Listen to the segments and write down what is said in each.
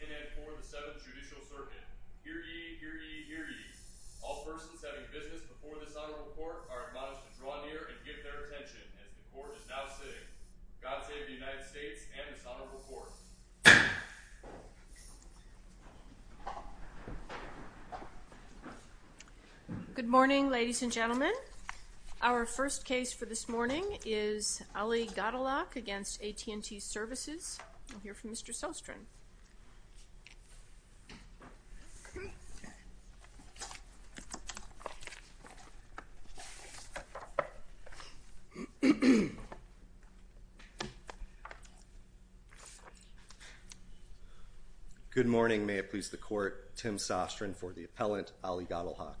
AT&T, the AT&T logo and all other AT&T marks contained herein are trademarks of AT&T Intellectual Property and ordered from AT&T, Inc. The Honorable Judges of the United States Court of Appeals in and for the 7th Judicial Circuit. Hear ye, hear ye, hear ye. All persons having business before this Honorable Court are admonished to draw near and give their attention as the Court is now sitting. God save the United States and this Honorable Court. Good morning, ladies and gentlemen. Our first case for this morning is Ali Gadelhak v. AT&T Services. We'll hear from Mr. Sostrin. Good morning. May it please the Court, Tim Sostrin for the appellant, Ali Gadelhak.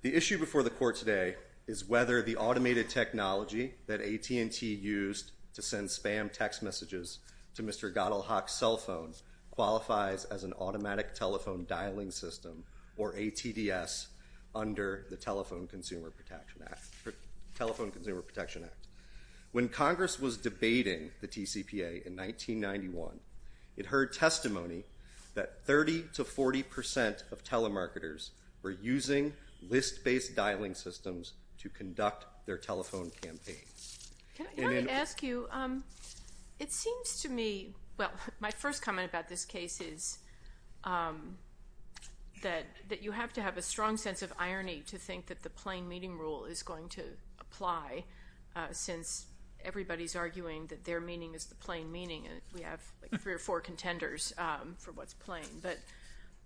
The issue before the Court today is whether the automated technology that AT&T used to send spam text messages to Mr. Gadelhak's cell phone qualifies as an automatic telephone dialing system or ATDS under the Telephone Consumer Protection Act. When Congress was debating the TCPA in 1991, it heard testimony that 30 to 40 percent of telemarketers were using list-based dialing systems to conduct their telephone campaign. Can I ask you, it seems to me, well, my first comment about this case is that you have to have a strong sense of irony to think that the plain meaning rule is going to apply since everybody's arguing that their meaning is the plain meaning and we have three or four contenders for what's plain. But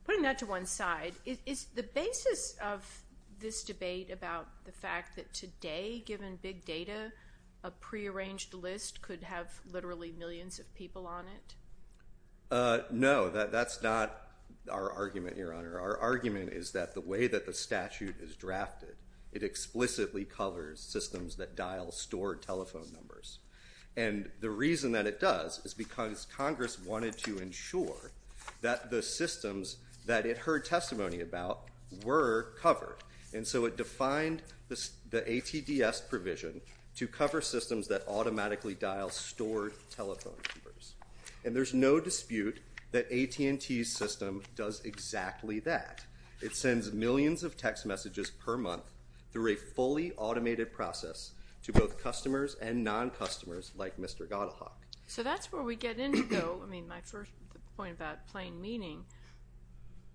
putting that to one side, is the basis of this debate about the fact that today, given big data, a prearranged list could have literally millions of people on it? No, that's not our argument, Your Honor. Our argument is that the way that the statute is drafted, it explicitly covers systems that dial stored telephone numbers. And the reason that it does is because Congress wanted to ensure that the systems that it heard testimony about were covered. And so it defined the ATDS provision to cover systems that automatically dial stored telephone numbers. And there's no dispute that AT&T's system does exactly that. It sends millions of text messages per month through a fully automated process to both customers and non-customers like Mr. Gotthard. So that's where we get into, though, I mean, my first point about plain meaning.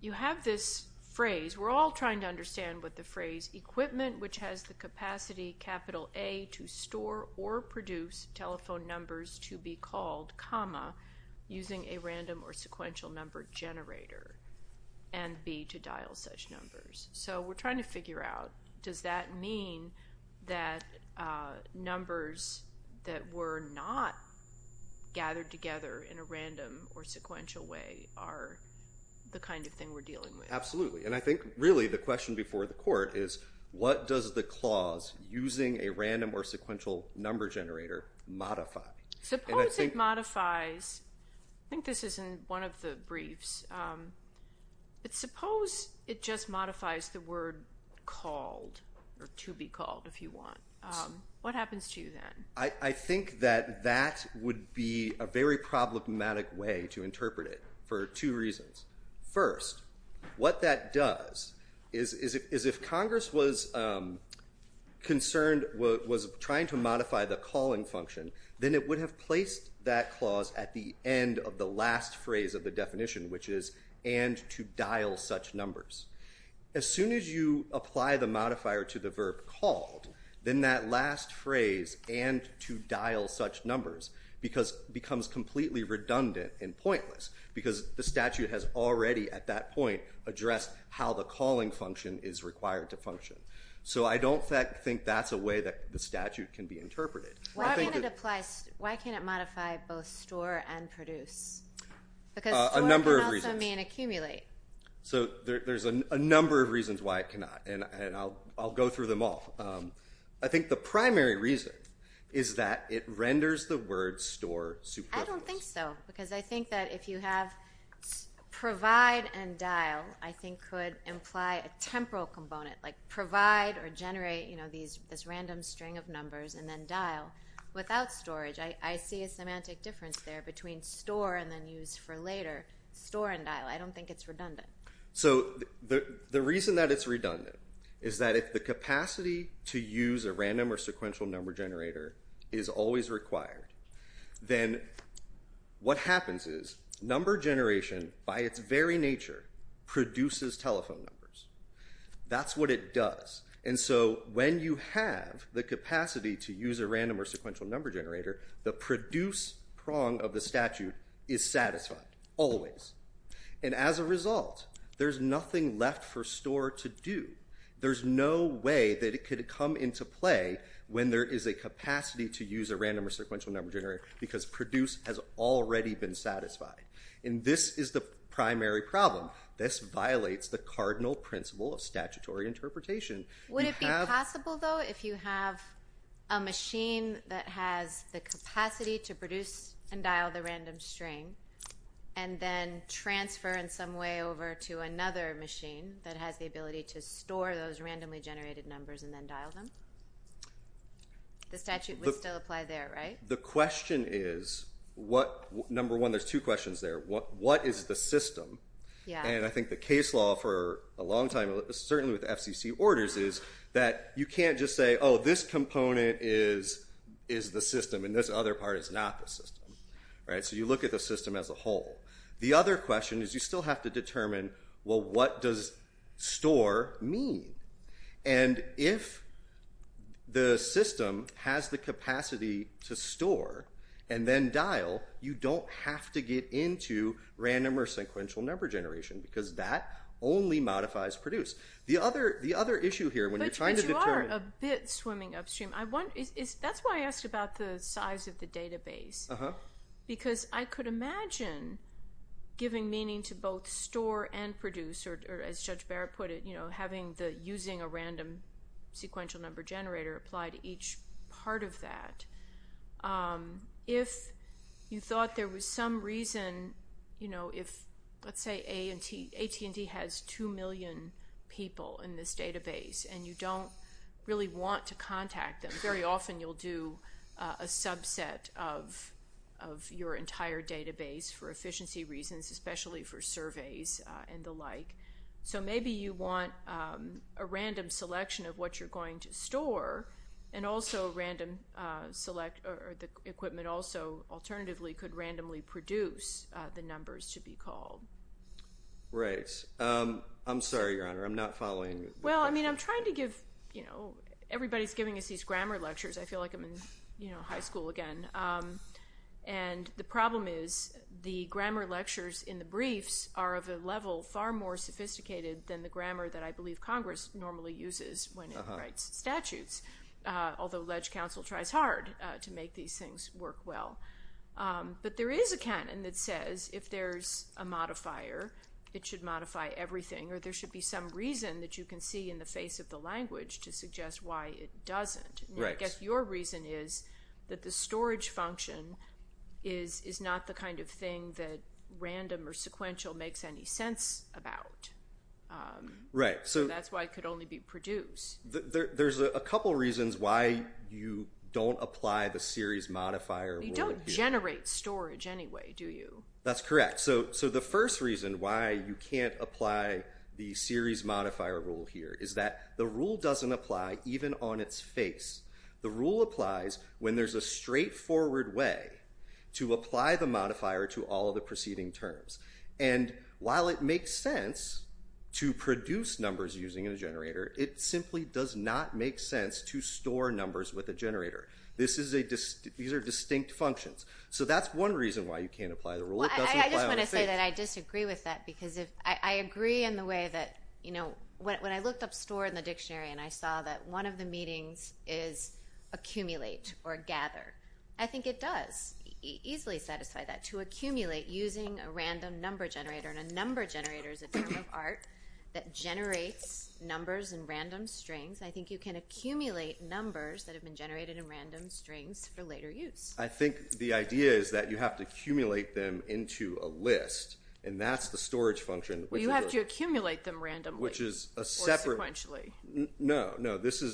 You have this phrase, we're all trying to understand what the phrase equipment, which has the capacity, capital A, to store or produce telephone numbers to be called, comma, using a random or sequential number generator, and B, to dial such numbers. So we're trying to figure out, does that mean that numbers that were not gathered together in a random or sequential way are the kind of thing we're dealing with? Absolutely. And I think, really, the question before the court is, what does the clause using a random or sequential number generator modify? Suppose it modifies, I think this is in one of the briefs, but suppose it just modifies the word called or to be called, if you want. What happens to you then? I think that that would be a very problematic way to interpret it for two reasons. First, what that does is if Congress was concerned, was trying to modify the calling function, then it would have placed that clause at the end of the last phrase of the definition, which is and to dial such numbers. As soon as you apply the modifier to the verb called, then that last phrase, and to dial such numbers, becomes completely redundant and pointless, because the statute has already, at that point, addressed how the calling function is required to function. So I don't think that's a way that the statute can be interpreted. Why can't it modify both store and produce? A number of reasons. Because store can also mean accumulate. So there's a number of reasons why it cannot, and I'll go through them all. I think the primary reason is that it renders the word store superfluous. I don't think so, because I think that if you have provide and dial, I think could imply a temporal component, like provide or generate this random string of numbers and then dial. Without storage, I see a semantic difference there between store and then use for later. Store and dial, I don't think it's redundant. So the reason that it's redundant is that if the capacity to use a random or sequential number generator is always required, then what happens is number generation, by its very nature, produces telephone numbers. That's what it does. And so when you have the capacity to use a random or sequential number generator, the produce prong of the statute is satisfied, always. And as a result, there's nothing left for store to do. There's no way that it could come into play when there is a capacity to use a random or sequential number generator, because produce has already been satisfied. And this is the primary problem. This violates the cardinal principle of statutory interpretation. Would it be possible, though, if you have a machine that has the capacity to produce and dial the random string and then transfer in some way over to another machine that has the ability to store those randomly generated numbers and then dial them? The statute would still apply there, right? The question is, number one, there's two questions there. What is the system? And I think the case law for a long time, certainly with FCC orders, is that you can't just say, oh, this component is the system and this other part is not the system. So you look at the system as a whole. The other question is you still have to determine, well, what does store mean? And if the system has the capacity to store and then dial, you don't have to get into random or sequential number generation, because that only modifies produce. But you are a bit swimming upstream. That's why I asked about the size of the database, because I could imagine giving meaning to both store and produce, or as Judge Barrett put it, using a random sequential number generator applied to each part of that. If you thought there was some reason, you know, if let's say AT&T has 2 million people in this database and you don't really want to contact them, very often you'll do a subset of your entire database for efficiency reasons, especially for surveys and the like. So maybe you want a random selection of what you're going to store, and also random select or the equipment also alternatively could randomly produce the numbers to be called. Right. I'm sorry, Your Honor. I'm not following. Well, I mean, I'm trying to give, you know, everybody's giving us these grammar lectures. I feel like I'm in high school again. And the problem is the grammar lectures in the briefs are of a level far more sophisticated than the grammar that I believe Congress normally uses when it writes statutes, although ledge counsel tries hard to make these things work well. But there is a canon that says if there's a modifier, it should modify everything, or there should be some reason that you can see in the face of the language to suggest why it doesn't. I guess your reason is that the storage function is not the kind of thing that random or sequential makes any sense about. Right. So that's why it could only be produced. There's a couple reasons why you don't apply the series modifier. You don't generate storage anyway, do you? That's correct. So the first reason why you can't apply the series modifier rule here is that the rule doesn't apply even on its face. The rule applies when there's a straightforward way to apply the modifier to all of the preceding terms. And while it makes sense to produce numbers using a generator, it simply does not make sense to store numbers with a generator. These are distinct functions. So that's one reason why you can't apply the rule. I just want to say that I disagree with that because I agree in the way that when I looked up store in the dictionary and I saw that one of the meetings is accumulate or gather. I think it does easily satisfy that. To accumulate using a random number generator, and a number generator is a form of art that generates numbers in random strings. I think you can accumulate numbers that have been generated in random strings for later use. I think the idea is that you have to accumulate them into a list, and that's the storage function. You have to accumulate them randomly or sequentially. No.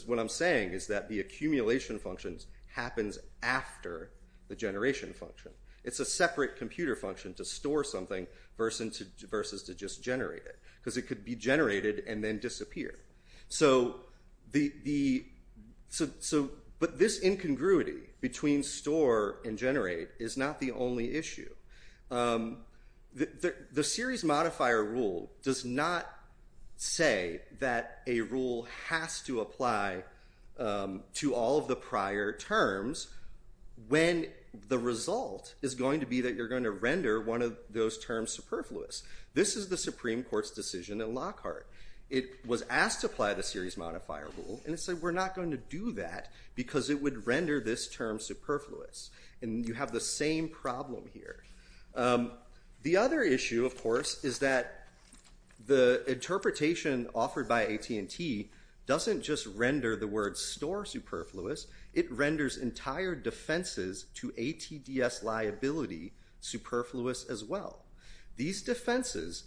What I'm saying is that the accumulation function happens after the generation function. It's a separate computer function to store something versus to just generate it because it could be generated and then disappear. But this incongruity between store and generate is not the only issue. The series modifier rule does not say that a rule has to apply to all of the prior terms when the result is going to be that you're going to render one of those terms superfluous. This is the Supreme Court's decision in Lockhart. It was asked to apply the series modifier rule, and it said we're not going to do that because it would render this term superfluous. And you have the same problem here. The other issue, of course, is that the interpretation offered by AT&T doesn't just render the word store superfluous. It renders entire defenses to ATDS liability superfluous as well. These defenses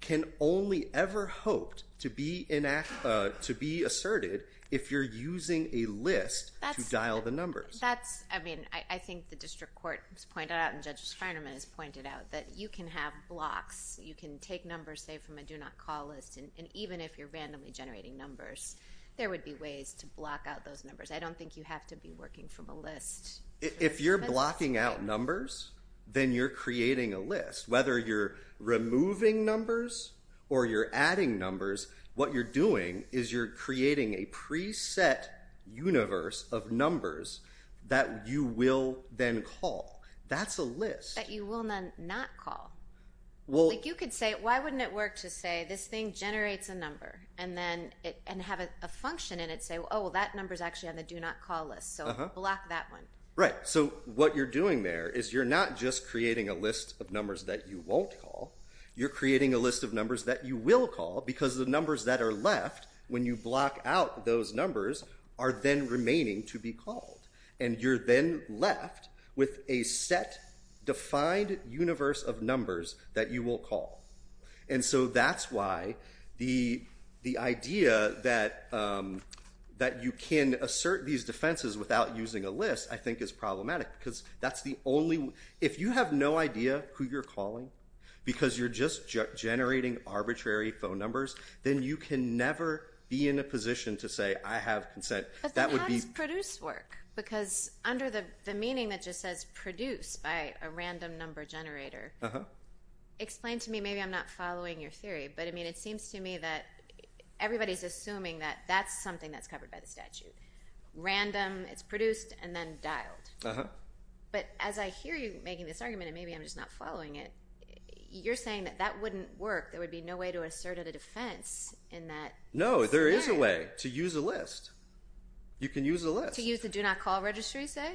can only ever hoped to be asserted if you're using a list to dial the numbers. That's, I mean, I think the district court has pointed out and Judge Feinerman has pointed out that you can have blocks. You can take numbers, say, from a do not call list, and even if you're randomly generating numbers, there would be ways to block out those numbers. I don't think you have to be working from a list. If you're blocking out numbers, then you're creating a list. Whether you're removing numbers or you're adding numbers, what you're doing is you're creating a preset universe of numbers that you will then call. That's a list. That you will not call. You could say, why wouldn't it work to say this thing generates a number and have a function in it say, oh, that number's actually on the do not call list. So block that one. Right. So what you're doing there is you're not just creating a list of numbers that you won't call. You're creating a list of numbers that you will call because the numbers that are left when you block out those numbers are then remaining to be called. And you're then left with a set, defined universe of numbers that you will call. And so that's why the idea that you can assert these defenses without using a list, I think, is problematic because that's the only way. If you have no idea who you're calling because you're just generating arbitrary phone numbers, then you can never be in a position to say, I have consent. But then how does produce work? Because under the meaning that just says produce by a random number generator, explain to me. Maybe I'm not following your theory, but it seems to me that everybody's assuming that that's something that's covered by the statute. Random, it's produced, and then dialed. But as I hear you making this argument, and maybe I'm just not following it, you're saying that that wouldn't work. There would be no way to assert a defense in that. No, there is a way to use a list. You can use a list. To use the do not call registry, say?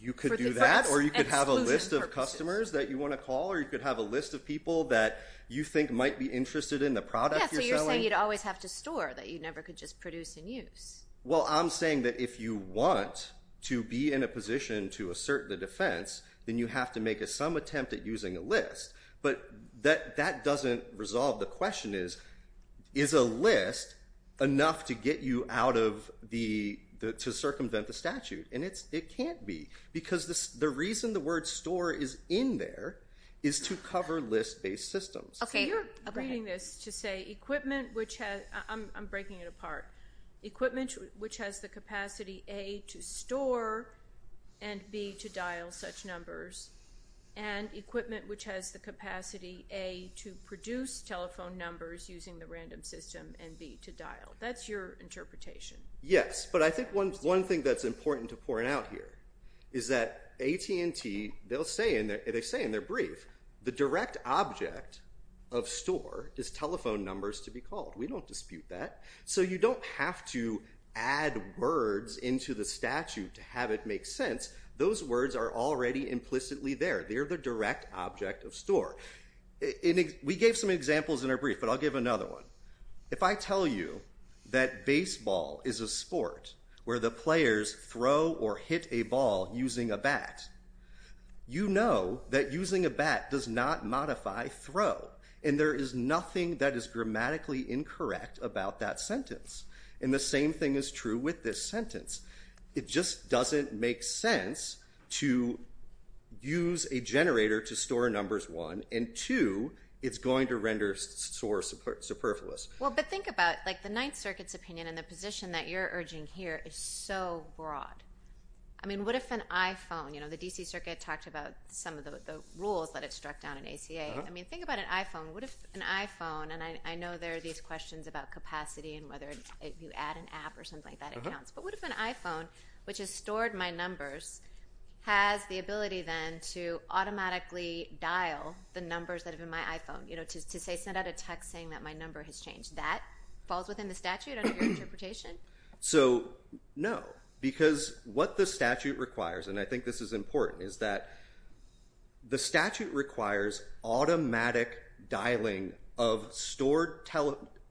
You could do that, or you could have a list of customers that you want to call, or you could have a list of people that you think might be interested in the product you're selling. Yeah, so you're saying you'd always have to store, that you never could just produce and use. Well, I'm saying that if you want to be in a position to assert the defense, then you have to make some attempt at using a list. But that doesn't resolve the question is, is a list enough to get you out of the, to circumvent the statute? And it can't be, because the reason the word store is in there is to cover list-based systems. Okay, go ahead. So you're using this to say equipment which has, I'm breaking it apart, equipment which has the capacity, A, to store and, B, to dial such numbers, and equipment which has the capacity, A, to produce telephone numbers using the random system, and, B, to dial. That's your interpretation. Yes, but I think one thing that's important to point out here is that AT&T, they say in their brief, the direct object of store is telephone numbers to be called. We don't dispute that. So you don't have to add words into the statute to have it make sense. Those words are already implicitly there. They're the direct object of store. We gave some examples in our brief, but I'll give another one. If I tell you that baseball is a sport where the players throw or hit a ball using a bat, you know that using a bat does not modify throw. And there is nothing that is grammatically incorrect about that sentence. And the same thing is true with this sentence. It just doesn't make sense to use a generator to store numbers, one, and, two, it's going to render store superfluous. Well, but think about, like, the Ninth Circuit's opinion and the position that you're urging here is so broad. I mean, what if an iPhone, you know, the D.C. Circuit talked about some of the rules that it struck down in ACA. I mean, think about an iPhone. What if an iPhone, and I know there are these questions about capacity and whether you add an app or something like that, it counts. But what if an iPhone, which has stored my numbers, has the ability then to automatically dial the numbers that are in my iPhone, you know, to send out a text saying that my number has changed. That falls within the statute under your interpretation? So, no, because what the statute requires, and I think this is important, is that the statute requires automatic dialing of stored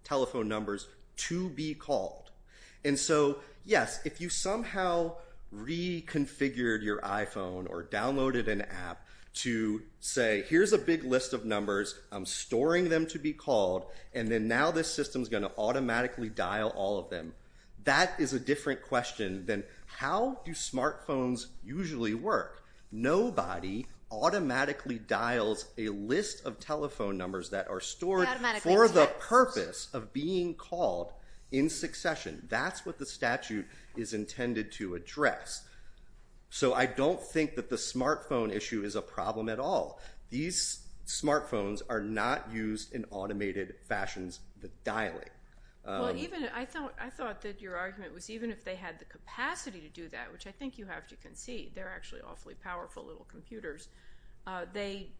telephone numbers to be called. And so, yes, if you somehow reconfigured your iPhone or downloaded an app to say, here's a big list of numbers, I'm storing them to be called, and then now this system's going to automatically dial all of them. That is a different question than how do smartphones usually work. Nobody automatically dials a list of telephone numbers that are stored for the purpose of being called in succession. That's what the statute is intended to address. So I don't think that the smartphone issue is a problem at all. These smartphones are not used in automated fashions with dialing. Well, I thought that your argument was even if they had the capacity to do that, which I think you have to concede. They're actually awfully powerful little computers. The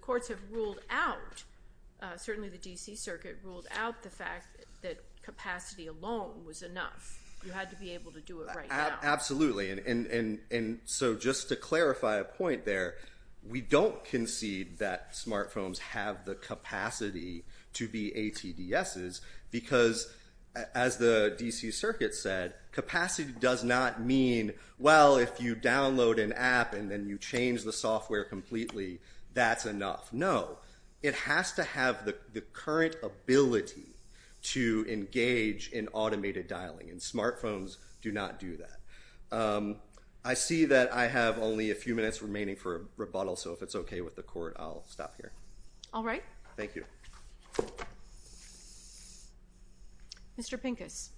courts have ruled out, certainly the D.C. Circuit ruled out the fact that capacity alone was enough. You had to be able to do it right now. Absolutely. And so just to clarify a point there, we don't concede that smartphones have the capacity to be ATDSs because, as the D.C. Circuit said, capacity does not mean, well, if you download an app and then you change the software completely, that's enough. No. It has to have the current ability to engage in automated dialing. And smartphones do not do that. I see that I have only a few minutes remaining for rebuttal, so if it's okay with the Court, I'll stop here. All right. Thank you. Mr. Pincus.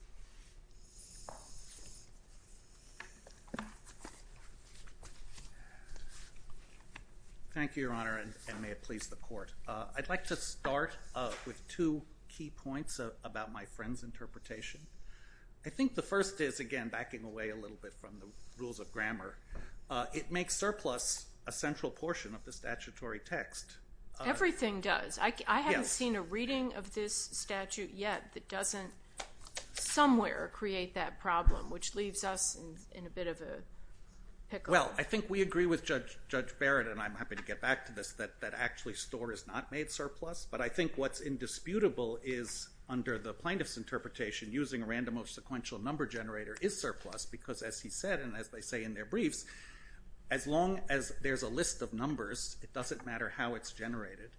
Thank you, Your Honor, and may it please the Court. I'd like to start with two key points about my friend's interpretation. I think the first is, again, backing away a little bit from the rules of grammar, it makes surplus a central portion of the statutory text. Everything does. I haven't seen a reading of this statute yet that doesn't somewhere create that problem, which leaves us in a bit of a pickle. Well, I think we agree with Judge Barrett, and I'm happy to get back to this, that actually store is not made surplus. But I think what's indisputable is, under the plaintiff's interpretation, using a random or sequential number generator is surplus because, as he said, and as they say in their briefs, as long as there's a list of numbers, it doesn't matter how it's generated.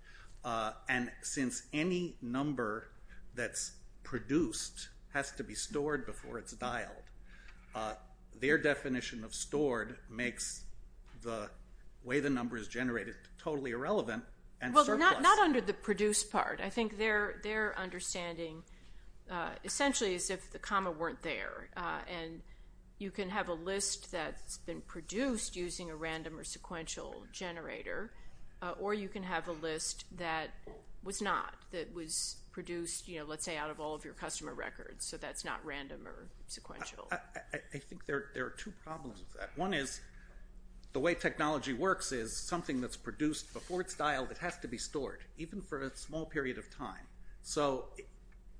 And since any number that's produced has to be stored before it's dialed, their definition of stored makes the way the number is generated totally irrelevant and surplus. Well, not under the produced part. I think their understanding essentially is if the comma weren't there, and you can have a list that's been produced using a random or sequential generator, or you can have a list that was not, that was produced, let's say, out of all of your customer records, so that's not random or sequential. I think there are two problems with that. One is the way technology works is something that's produced before it's dialed, it has to be stored, even for a small period of time. So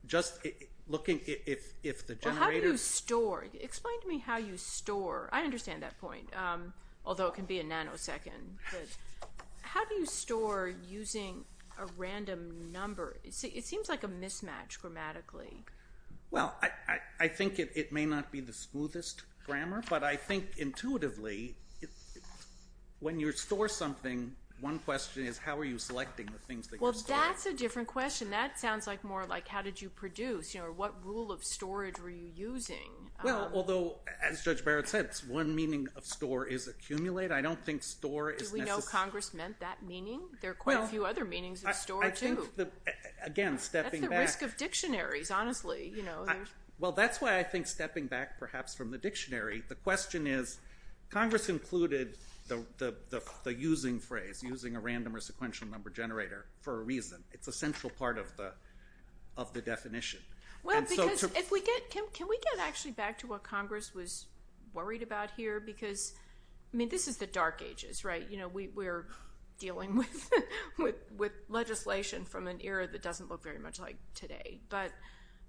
just looking if the generator… Well, how do you store? Explain to me how you store. I understand that point, although it can be a nanosecond. How do you store using a random number? It seems like a mismatch grammatically. Well, I think it may not be the smoothest grammar, but I think intuitively when you store something, one question is how are you selecting the things that you're storing? Well, that's a different question. That sounds more like how did you produce, or what rule of storage were you using? Well, although, as Judge Barrett said, one meaning of store is accumulate. I don't think store is necessarily… Do we know Congress meant that meaning? There are quite a few other meanings of store, too. I think, again, stepping back… That's the risk of dictionaries, honestly. Well, that's why I think stepping back perhaps from the dictionary, the question is, Congress included the using phrase, using a random or sequential number generator, for a reason. It's a central part of the definition. Well, because if we get… Can we get actually back to what Congress was worried about here? Because, I mean, this is the dark ages, right? We're dealing with legislation from an era that doesn't look very much like today. But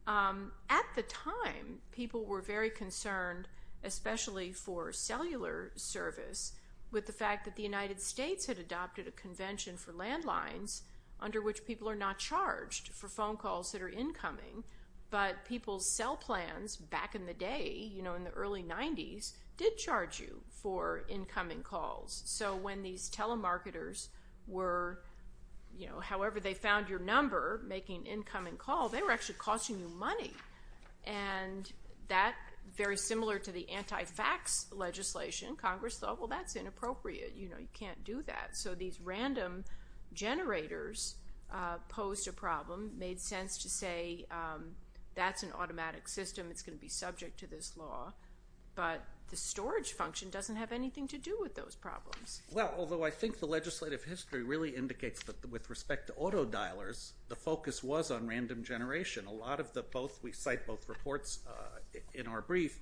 at the time, people were very concerned, especially for cellular service, with the fact that the United States had adopted a convention for landlines under which people are not charged for phone calls that are incoming. But people's cell plans back in the day, you know, in the early 90s, did charge you for incoming calls. So when these telemarketers were, you know, however they found your number, making an incoming call, they were actually costing you money. And that, very similar to the anti-fax legislation, Congress thought, well, that's inappropriate. You know, you can't do that. So these random generators posed a problem, made sense to say that's an automatic system. It's going to be subject to this law. But the storage function doesn't have anything to do with those problems. Well, although I think the legislative history really indicates that with respect to auto-dialers, the focus was on random generation. A lot of the both…we cite both reports in our brief.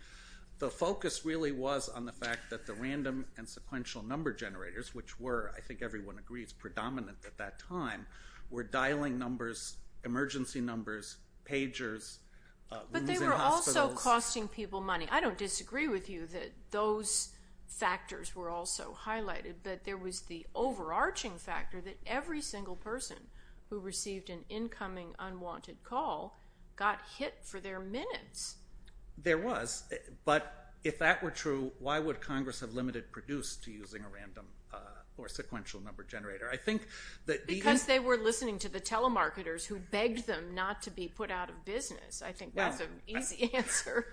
The focus really was on the fact that the random and sequential number generators, which were, I think everyone agrees, predominant at that time, were dialing numbers, emergency numbers, pagers, losing hospitals. But they were also costing people money. I don't disagree with you that those factors were also highlighted, but there was the overarching factor that every single person who received an incoming unwanted call got hit for their minutes. There was. But if that were true, why would Congress have limited produce to using a random or sequential number generator? Because they were listening to the telemarketers who begged them not to be put out of business. I think that's an easy answer.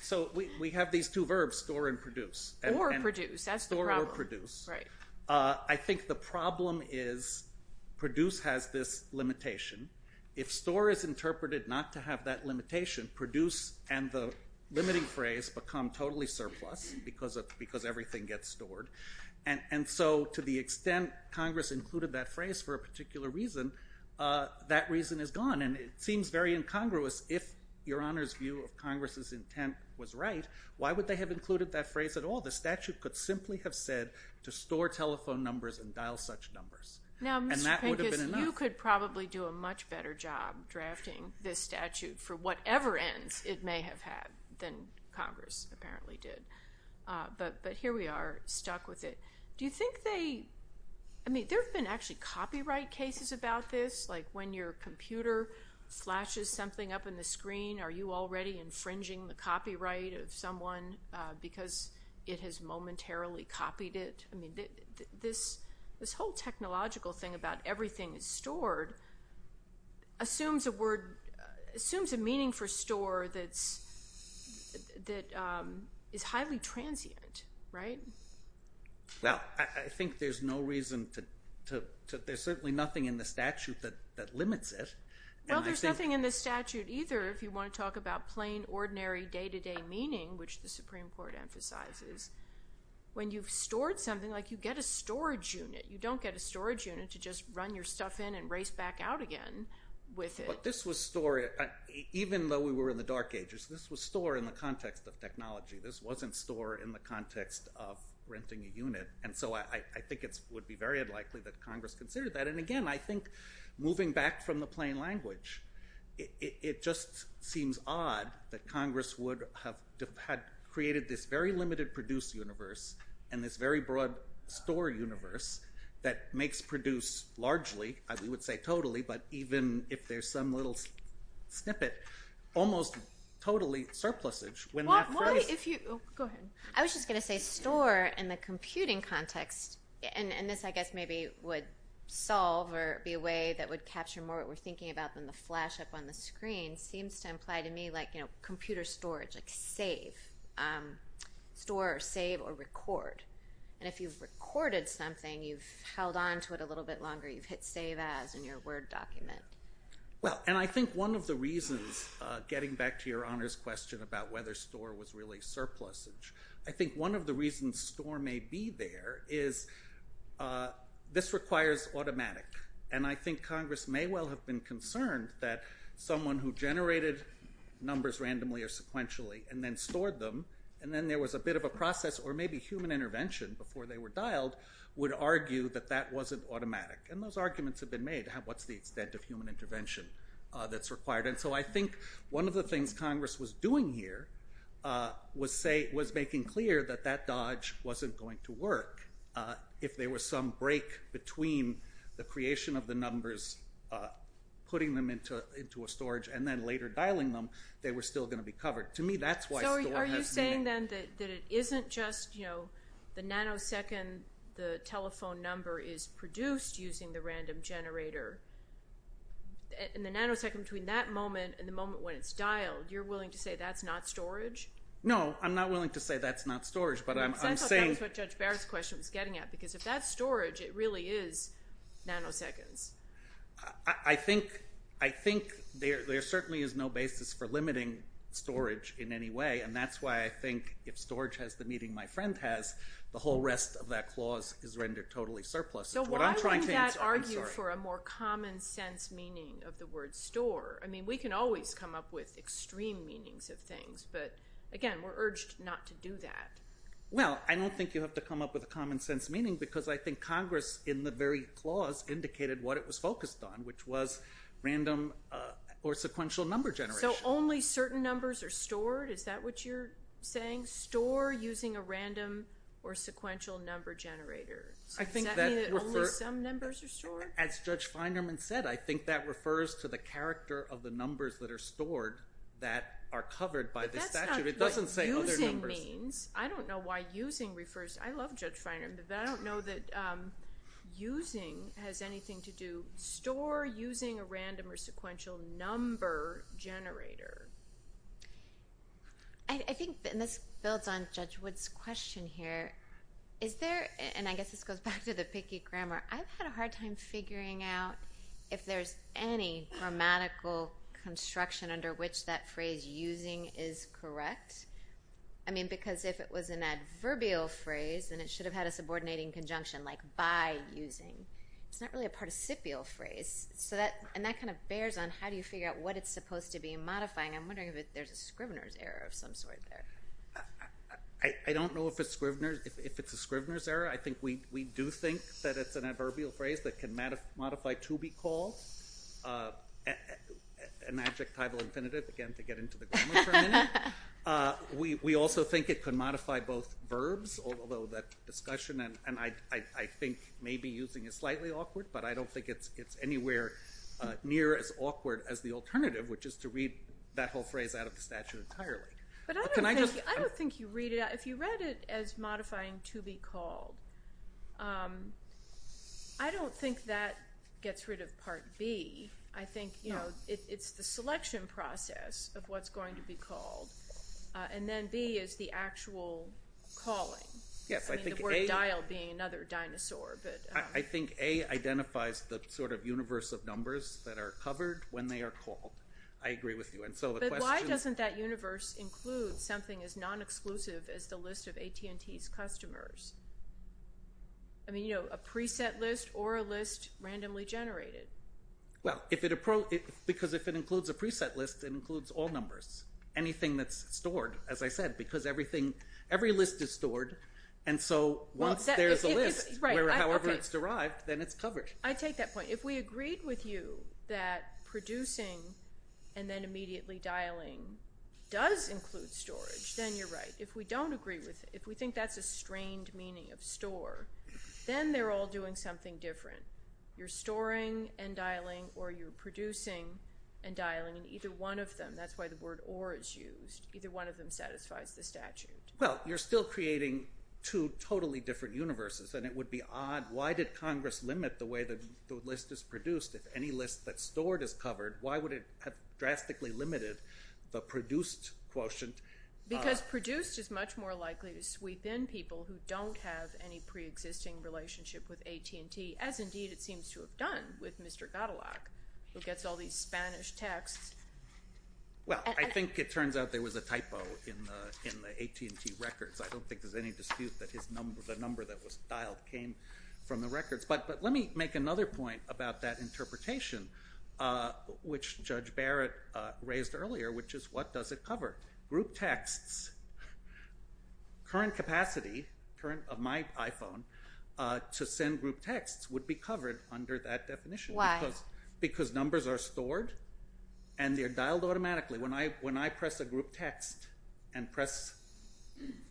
So we have these two verbs, store and produce. Or produce. That's the problem. Or produce. Right. I think the problem is produce has this limitation. If store is interpreted not to have that limitation, produce and the limiting phrase become totally surplus because everything gets stored. And so to the extent Congress included that phrase for a particular reason, that reason is gone. And it seems very incongruous. If Your Honor's view of Congress's intent was right, why would they have included that phrase at all? The statute could simply have said to store telephone numbers and dial such numbers. And that would have been enough. Now, Mr. Pincus, you could probably do a much better job drafting this statute for whatever ends it may have had than Congress apparently did. But here we are, stuck with it. Do you think they – I mean, there have been actually copyright cases about this. Like when your computer flashes something up in the screen, are you already infringing the copyright of someone because it has momentarily copied it? This whole technological thing about everything is stored assumes a word – assumes a meaning for store that is highly transient, right? Well, I think there's no reason to – there's certainly nothing in the statute that limits it. Well, there's nothing in the statute either if you want to talk about plain, ordinary, day-to-day meaning, which the Supreme Court emphasizes. When you've stored something, like you get a storage unit. You don't get a storage unit to just run your stuff in and race back out again with it. But this was stored – even though we were in the dark ages, this was stored in the context of technology. This wasn't stored in the context of renting a unit. And so I think it would be very unlikely that Congress considered that. And, again, I think moving back from the plain language, it just seems odd that Congress would have created this very limited produce universe and this very broad store universe that makes produce largely – we would say totally, but even if there's some little snippet – almost totally surplusage. Why if you – oh, go ahead. I was just going to say store in the computing context, and this I guess maybe would solve or be a way that would capture more of what we're thinking about when the flash up on the screen seems to imply to me like computer storage, like save, store, save, or record. And if you've recorded something, you've held on to it a little bit longer. You've hit save as in your Word document. Well, and I think one of the reasons, getting back to your honors question about whether store was really surplusage, I think one of the reasons store may be there is this requires automatic. And I think Congress may well have been concerned that someone who generated numbers randomly or sequentially and then stored them, and then there was a bit of a process or maybe human intervention before they were dialed would argue that that wasn't automatic. And those arguments have been made. What's the extent of human intervention that's required? And so I think one of the things Congress was doing here was making clear that that dodge wasn't going to work if there was some break between the creation of the numbers, putting them into a storage, and then later dialing them, they were still going to be covered. To me, that's why store has meaning. So are you saying then that it isn't just the nanosecond the telephone number is produced using the random generator, and the nanosecond between that moment and the moment when it's dialed, you're willing to say that's not storage? No, I'm not willing to say that's not storage. Because I thought that was what Judge Barrett's question was getting at, because if that's storage, it really is nanoseconds. I think there certainly is no basis for limiting storage in any way, and that's why I think if storage has the meaning my friend has, the whole rest of that clause is rendered totally surplus. So why wouldn't that argue for a more common sense meaning of the word store? I mean, we can always come up with extreme meanings of things, but, again, we're urged not to do that. Well, I don't think you have to come up with a common sense meaning, because I think Congress in the very clause indicated what it was focused on, which was random or sequential number generation. So only certain numbers are stored? Is that what you're saying? Store using a random or sequential number generator? Does that mean that only some numbers are stored? As Judge Feinerman said, I think that refers to the character of the numbers that are stored that are covered by the statute. It doesn't say other numbers. But that's not what using means. I don't know why using refers to it. I love Judge Feinerman, but I don't know that using has anything to do. Store using a random or sequential number generator. I think, and this builds on Judge Wood's question here, is there, and I guess this goes back to the picky grammar, I've had a hard time figuring out if there's any grammatical construction under which that phrase using is correct. I mean, because if it was an adverbial phrase, then it should have had a subordinating conjunction like by using. It's not really a participial phrase. And that kind of bears on how do you figure out what it's supposed to be in modifying. I'm wondering if there's a Scrivener's error of some sort there. I don't know if it's a Scrivener's error. I think we do think that it's an adverbial phrase that can modify to be called an adjectival infinitive, again, to get into the grammar term. We also think it could modify both verbs, although that discussion, and I think maybe using is slightly awkward, but I don't think it's anywhere near as awkward as the alternative, which is to read that whole phrase out of the statute entirely. Can I just – If you read it as modifying to be called, I don't think that gets rid of Part B. I think it's the selection process of what's going to be called, and then B is the actual calling, the word dial being another dinosaur. I think A identifies the sort of universe of numbers that are covered when they are called. I agree with you. But why doesn't that universe include something as non-exclusive as the list of AT&T's customers? I mean, you know, a preset list or a list randomly generated. Well, because if it includes a preset list, it includes all numbers, anything that's stored, as I said, because every list is stored, and so once there's a list, however it's derived, then it's covered. I take that point. If we agreed with you that producing and then immediately dialing does include storage, then you're right. If we don't agree with it, if we think that's a strained meaning of store, then they're all doing something different. You're storing and dialing or you're producing and dialing, and either one of them, that's why the word or is used, either one of them satisfies the statute. Well, you're still creating two totally different universes, and it would be odd. Why did Congress limit the way the list is produced? If any list that's stored is covered, why would it have drastically limited the produced quotient? Because produced is much more likely to sweep in people who don't have any preexisting relationship with AT&T, as indeed it seems to have done with Mr. Godelock, who gets all these Spanish texts. Well, I think it turns out there was a typo in the AT&T records. I don't think there's any dispute that the number that was dialed came from the records. But let me make another point about that interpretation, which Judge Barrett raised earlier, which is what does it cover? Group texts, current capacity, current of my iPhone, to send group texts would be covered under that definition. Why? Because numbers are stored and they're dialed automatically. When I press a group text and press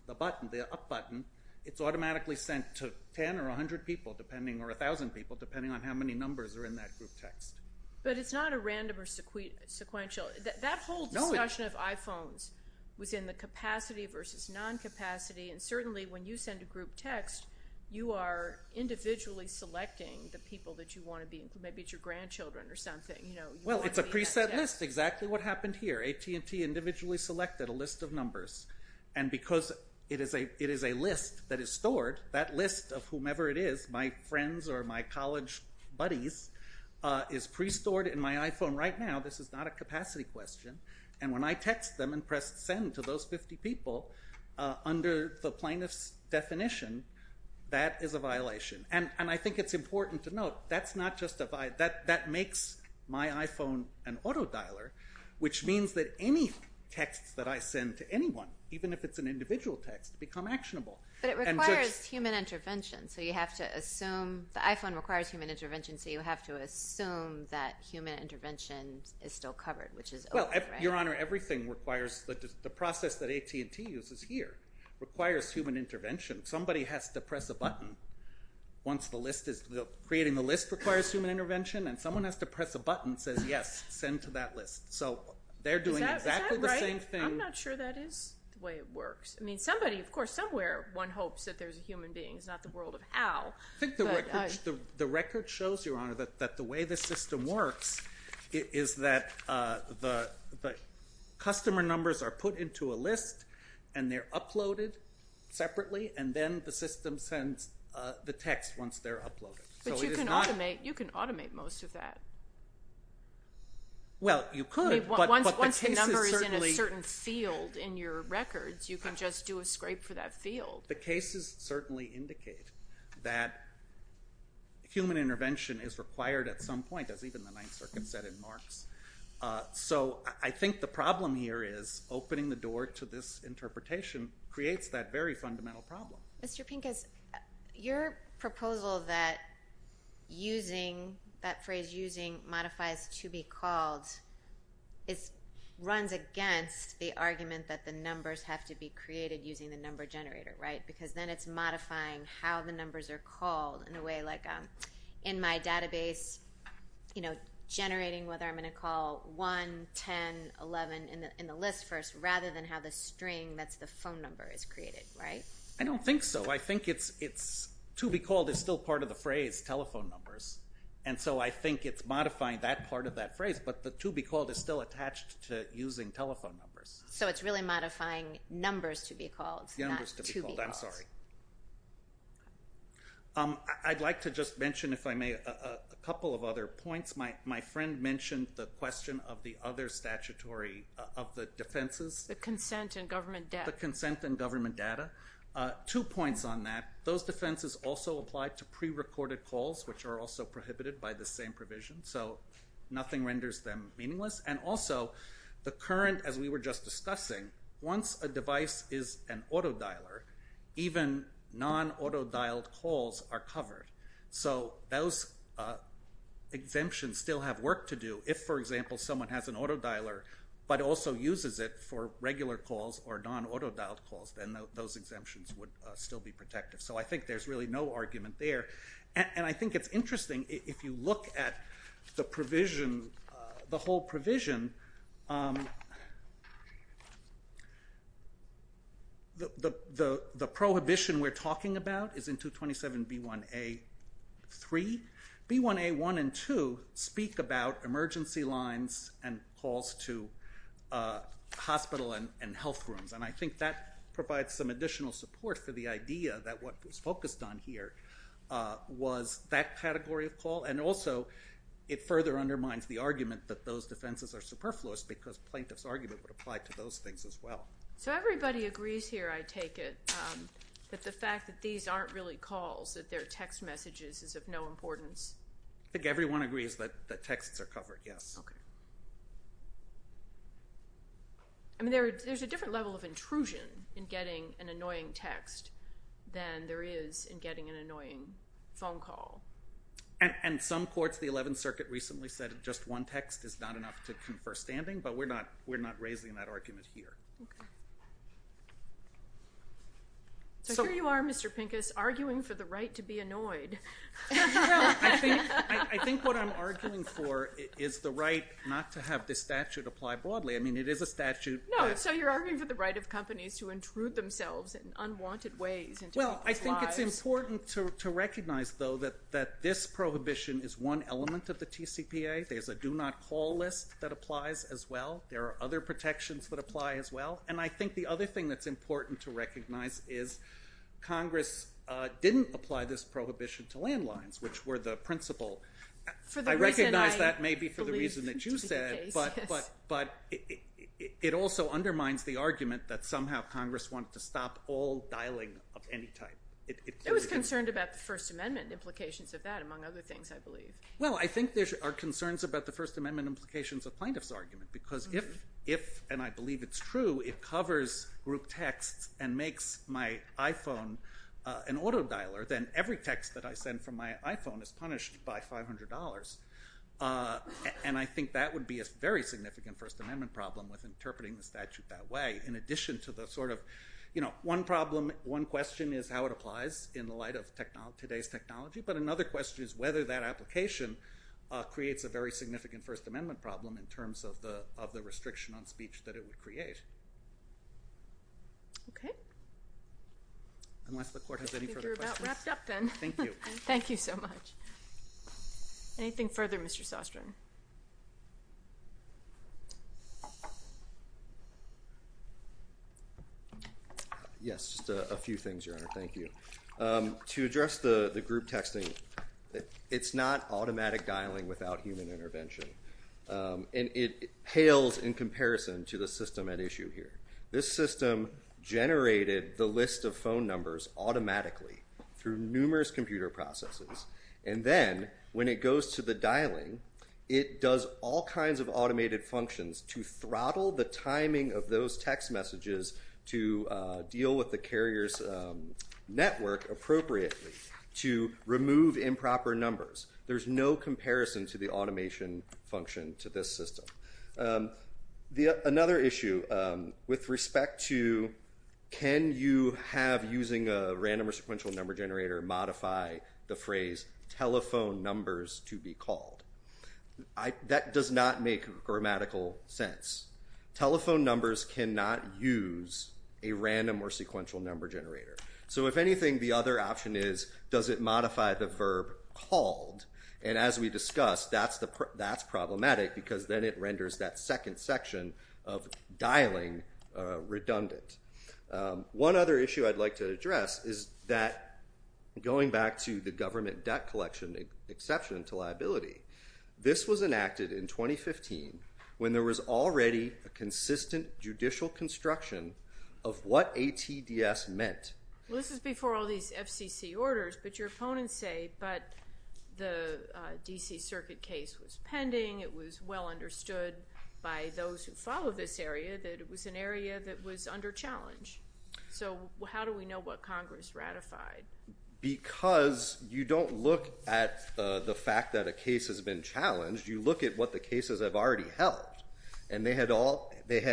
the button, the up button, it's automatically sent to 10 or 100 people, or 1,000 people, depending on how many numbers are in that group text. But it's not a random or sequential. That whole discussion of iPhones was in the capacity versus non-capacity, and certainly when you send a group text, you are individually selecting the people that you want to be, maybe it's your grandchildren or something. Well, it's a preset list, exactly what happened here. AT&T individually selected a list of numbers. And because it is a list that is stored, that list of whomever it is, my friends or my college buddies, is pre-stored in my iPhone right now. This is not a capacity question. And when I text them and press send to those 50 people, under the plaintiff's definition, that is a violation. And I think it's important to note that's not just a violation. That makes my iPhone an auto-dialer, which means that any texts that I send to anyone, even if it's an individual text, become actionable. But it requires human intervention, so you have to assume, the iPhone requires human intervention, so you have to assume that human intervention is still covered, which is over, right? Your Honor, everything requires, the process that AT&T uses here requires human intervention. Somebody has to press a button once the list is, creating the list requires human intervention, and someone has to press a button that says, yes, send to that list. So they're doing exactly the same thing. Is that right? I'm not sure that is the way it works. I mean, somebody, of course, somewhere one hopes that there's a human being. It's not the world of how. I think the record shows, Your Honor, that the way the system works is that the customer numbers are put into a list, and they're uploaded separately, and then the system sends the text once they're uploaded. But you can automate most of that. Well, you could, but the case is certainly. Once the number is in a certain field in your records, you can just do a scrape for that field. The cases certainly indicate that human intervention is required at some point, as even the Ninth Circuit said in Marx. So I think the problem here is opening the door to this interpretation creates that very fundamental problem. Mr. Pincus, your proposal that using that phrase, using modifies to be called, runs against the argument that the numbers have to be created using the number generator, right? Because then it's modifying how the numbers are called in a way, like in my database, generating whether I'm going to call 1, 10, 11, in the list first, rather than how the string, that's the phone number, is created, right? I don't think so. I think to be called is still part of the phrase telephone numbers, and so I think it's modifying that part of that phrase, but the to be called is still attached to using telephone numbers. So it's really modifying numbers to be called, not to be called. Numbers to be called, I'm sorry. I'd like to just mention, if I may, a couple of other points. My friend mentioned the question of the other statutory, of the defenses. The consent and government data. The consent and government data. Two points on that. Those defenses also apply to prerecorded calls, which are also prohibited by the same provision, so nothing renders them meaningless. And also, the current, as we were just discussing, once a device is an autodialer, even non-autodialed calls are covered. So those exemptions still have work to do. If, for example, someone has an autodialer, but also uses it for regular calls or non-autodialed calls, then those exemptions would still be protective. So I think there's really no argument there. And I think it's interesting, if you look at the provision, the whole provision, the prohibition we're talking about is in 227B1A3. B1A1 and 2 speak about emergency lines and calls to hospital and health rooms. And I think that provides some additional support for the idea that what was focused on here was that category of call. And also, it further undermines the argument that those defenses are superfluous because plaintiff's argument would apply to those things as well. So everybody agrees here, I take it, that the fact that these aren't really calls, that they're text messages, is of no importance? I think everyone agrees that texts are covered, yes. Okay. I mean, there's a different level of intrusion in getting an annoying text than there is in getting an annoying phone call. And some courts, the 11th Circuit recently said, just one text is not enough to confer standing, but we're not raising that argument here. Okay. So here you are, Mr. Pincus, arguing for the right to be annoyed. I think what I'm arguing for is the right not to have this statute apply broadly. I mean, it is a statute. No, so you're arguing for the right of companies to intrude themselves in unwanted ways into people's lives. I think it's important to recognize, though, that this prohibition is one element of the TCPA. There's a do not call list that applies as well. There are other protections that apply as well. And I think the other thing that's important to recognize is Congress didn't apply this prohibition to landlines, which were the principle. I recognize that maybe for the reason that you said, but it also undermines the argument that somehow Congress wanted to stop all It was concerned about the First Amendment implications of that, among other things, I believe. Well, I think there are concerns about the First Amendment implications of plaintiff's argument, because if, and I believe it's true, it covers group texts and makes my iPhone an auto dialer, then every text that I send from my iPhone is punished by $500. And I think that would be a very significant First Amendment problem with interpreting the statute that way, in addition to the sort of, one problem, one question is how it applies in the light of today's technology, but another question is whether that application creates a very significant First Amendment problem in terms of the restriction on speech that it would create. Okay. Unless the court has any further questions. I think we're about wrapped up then. Thank you. Thank you so much. Anything further, Mr. Sostren? Yes, just a few things, Your Honor. Thank you. To address the group texting, it's not automatic dialing without human intervention. And it pales in comparison to the system at issue here. This system generated the list of phone numbers automatically through numerous computer processes. And then when it goes to the dialing, it does all kinds of automated functions to throttle the timing of those text messages to deal with the carrier's network appropriately to remove improper numbers. There's no comparison to the automation function to this system. Another issue with respect to can you have using a random or sequential number generator modify the phrase telephone numbers to be called. That does not make grammatical sense. Telephone numbers cannot use a random or sequential number generator. So if anything, the other option is does it modify the verb called. And as we discussed, that's problematic because then it renders that second section of dialing redundant. One other issue I'd like to address is that going back to the government debt collection exception to liability. This was enacted in 2015 when there was already a consistent judicial construction of what ATDS meant. Well, this is before all these FCC orders, but your opponents say, but the D.C. Circuit case was pending. It was well understood by those who follow this area that it was an area that was under challenge. So how do we know what Congress ratified? Because you don't look at the fact that a case has been challenged. You look at what the cases have already held. And they had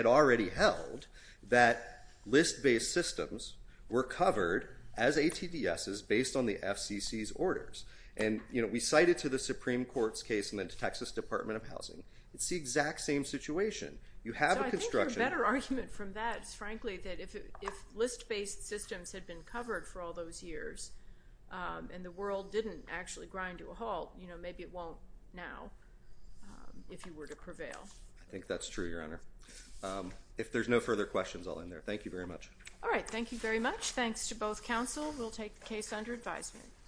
already held that list-based systems were covered as ATDSs based on the FCC's orders. And, you know, we cite it to the Supreme Court's case and then to Texas Department of Housing. It's the exact same situation. You have a construction. So I think your better argument from that is frankly that if list-based systems had been covered for all those years and the world didn't actually grind to a halt, you know, maybe it won't now if you were to prevail. I think that's true, Your Honor. If there's no further questions, I'll end there. Thank you very much. All right. Thank you very much. Thanks to both counsel. We'll take the case under advisement.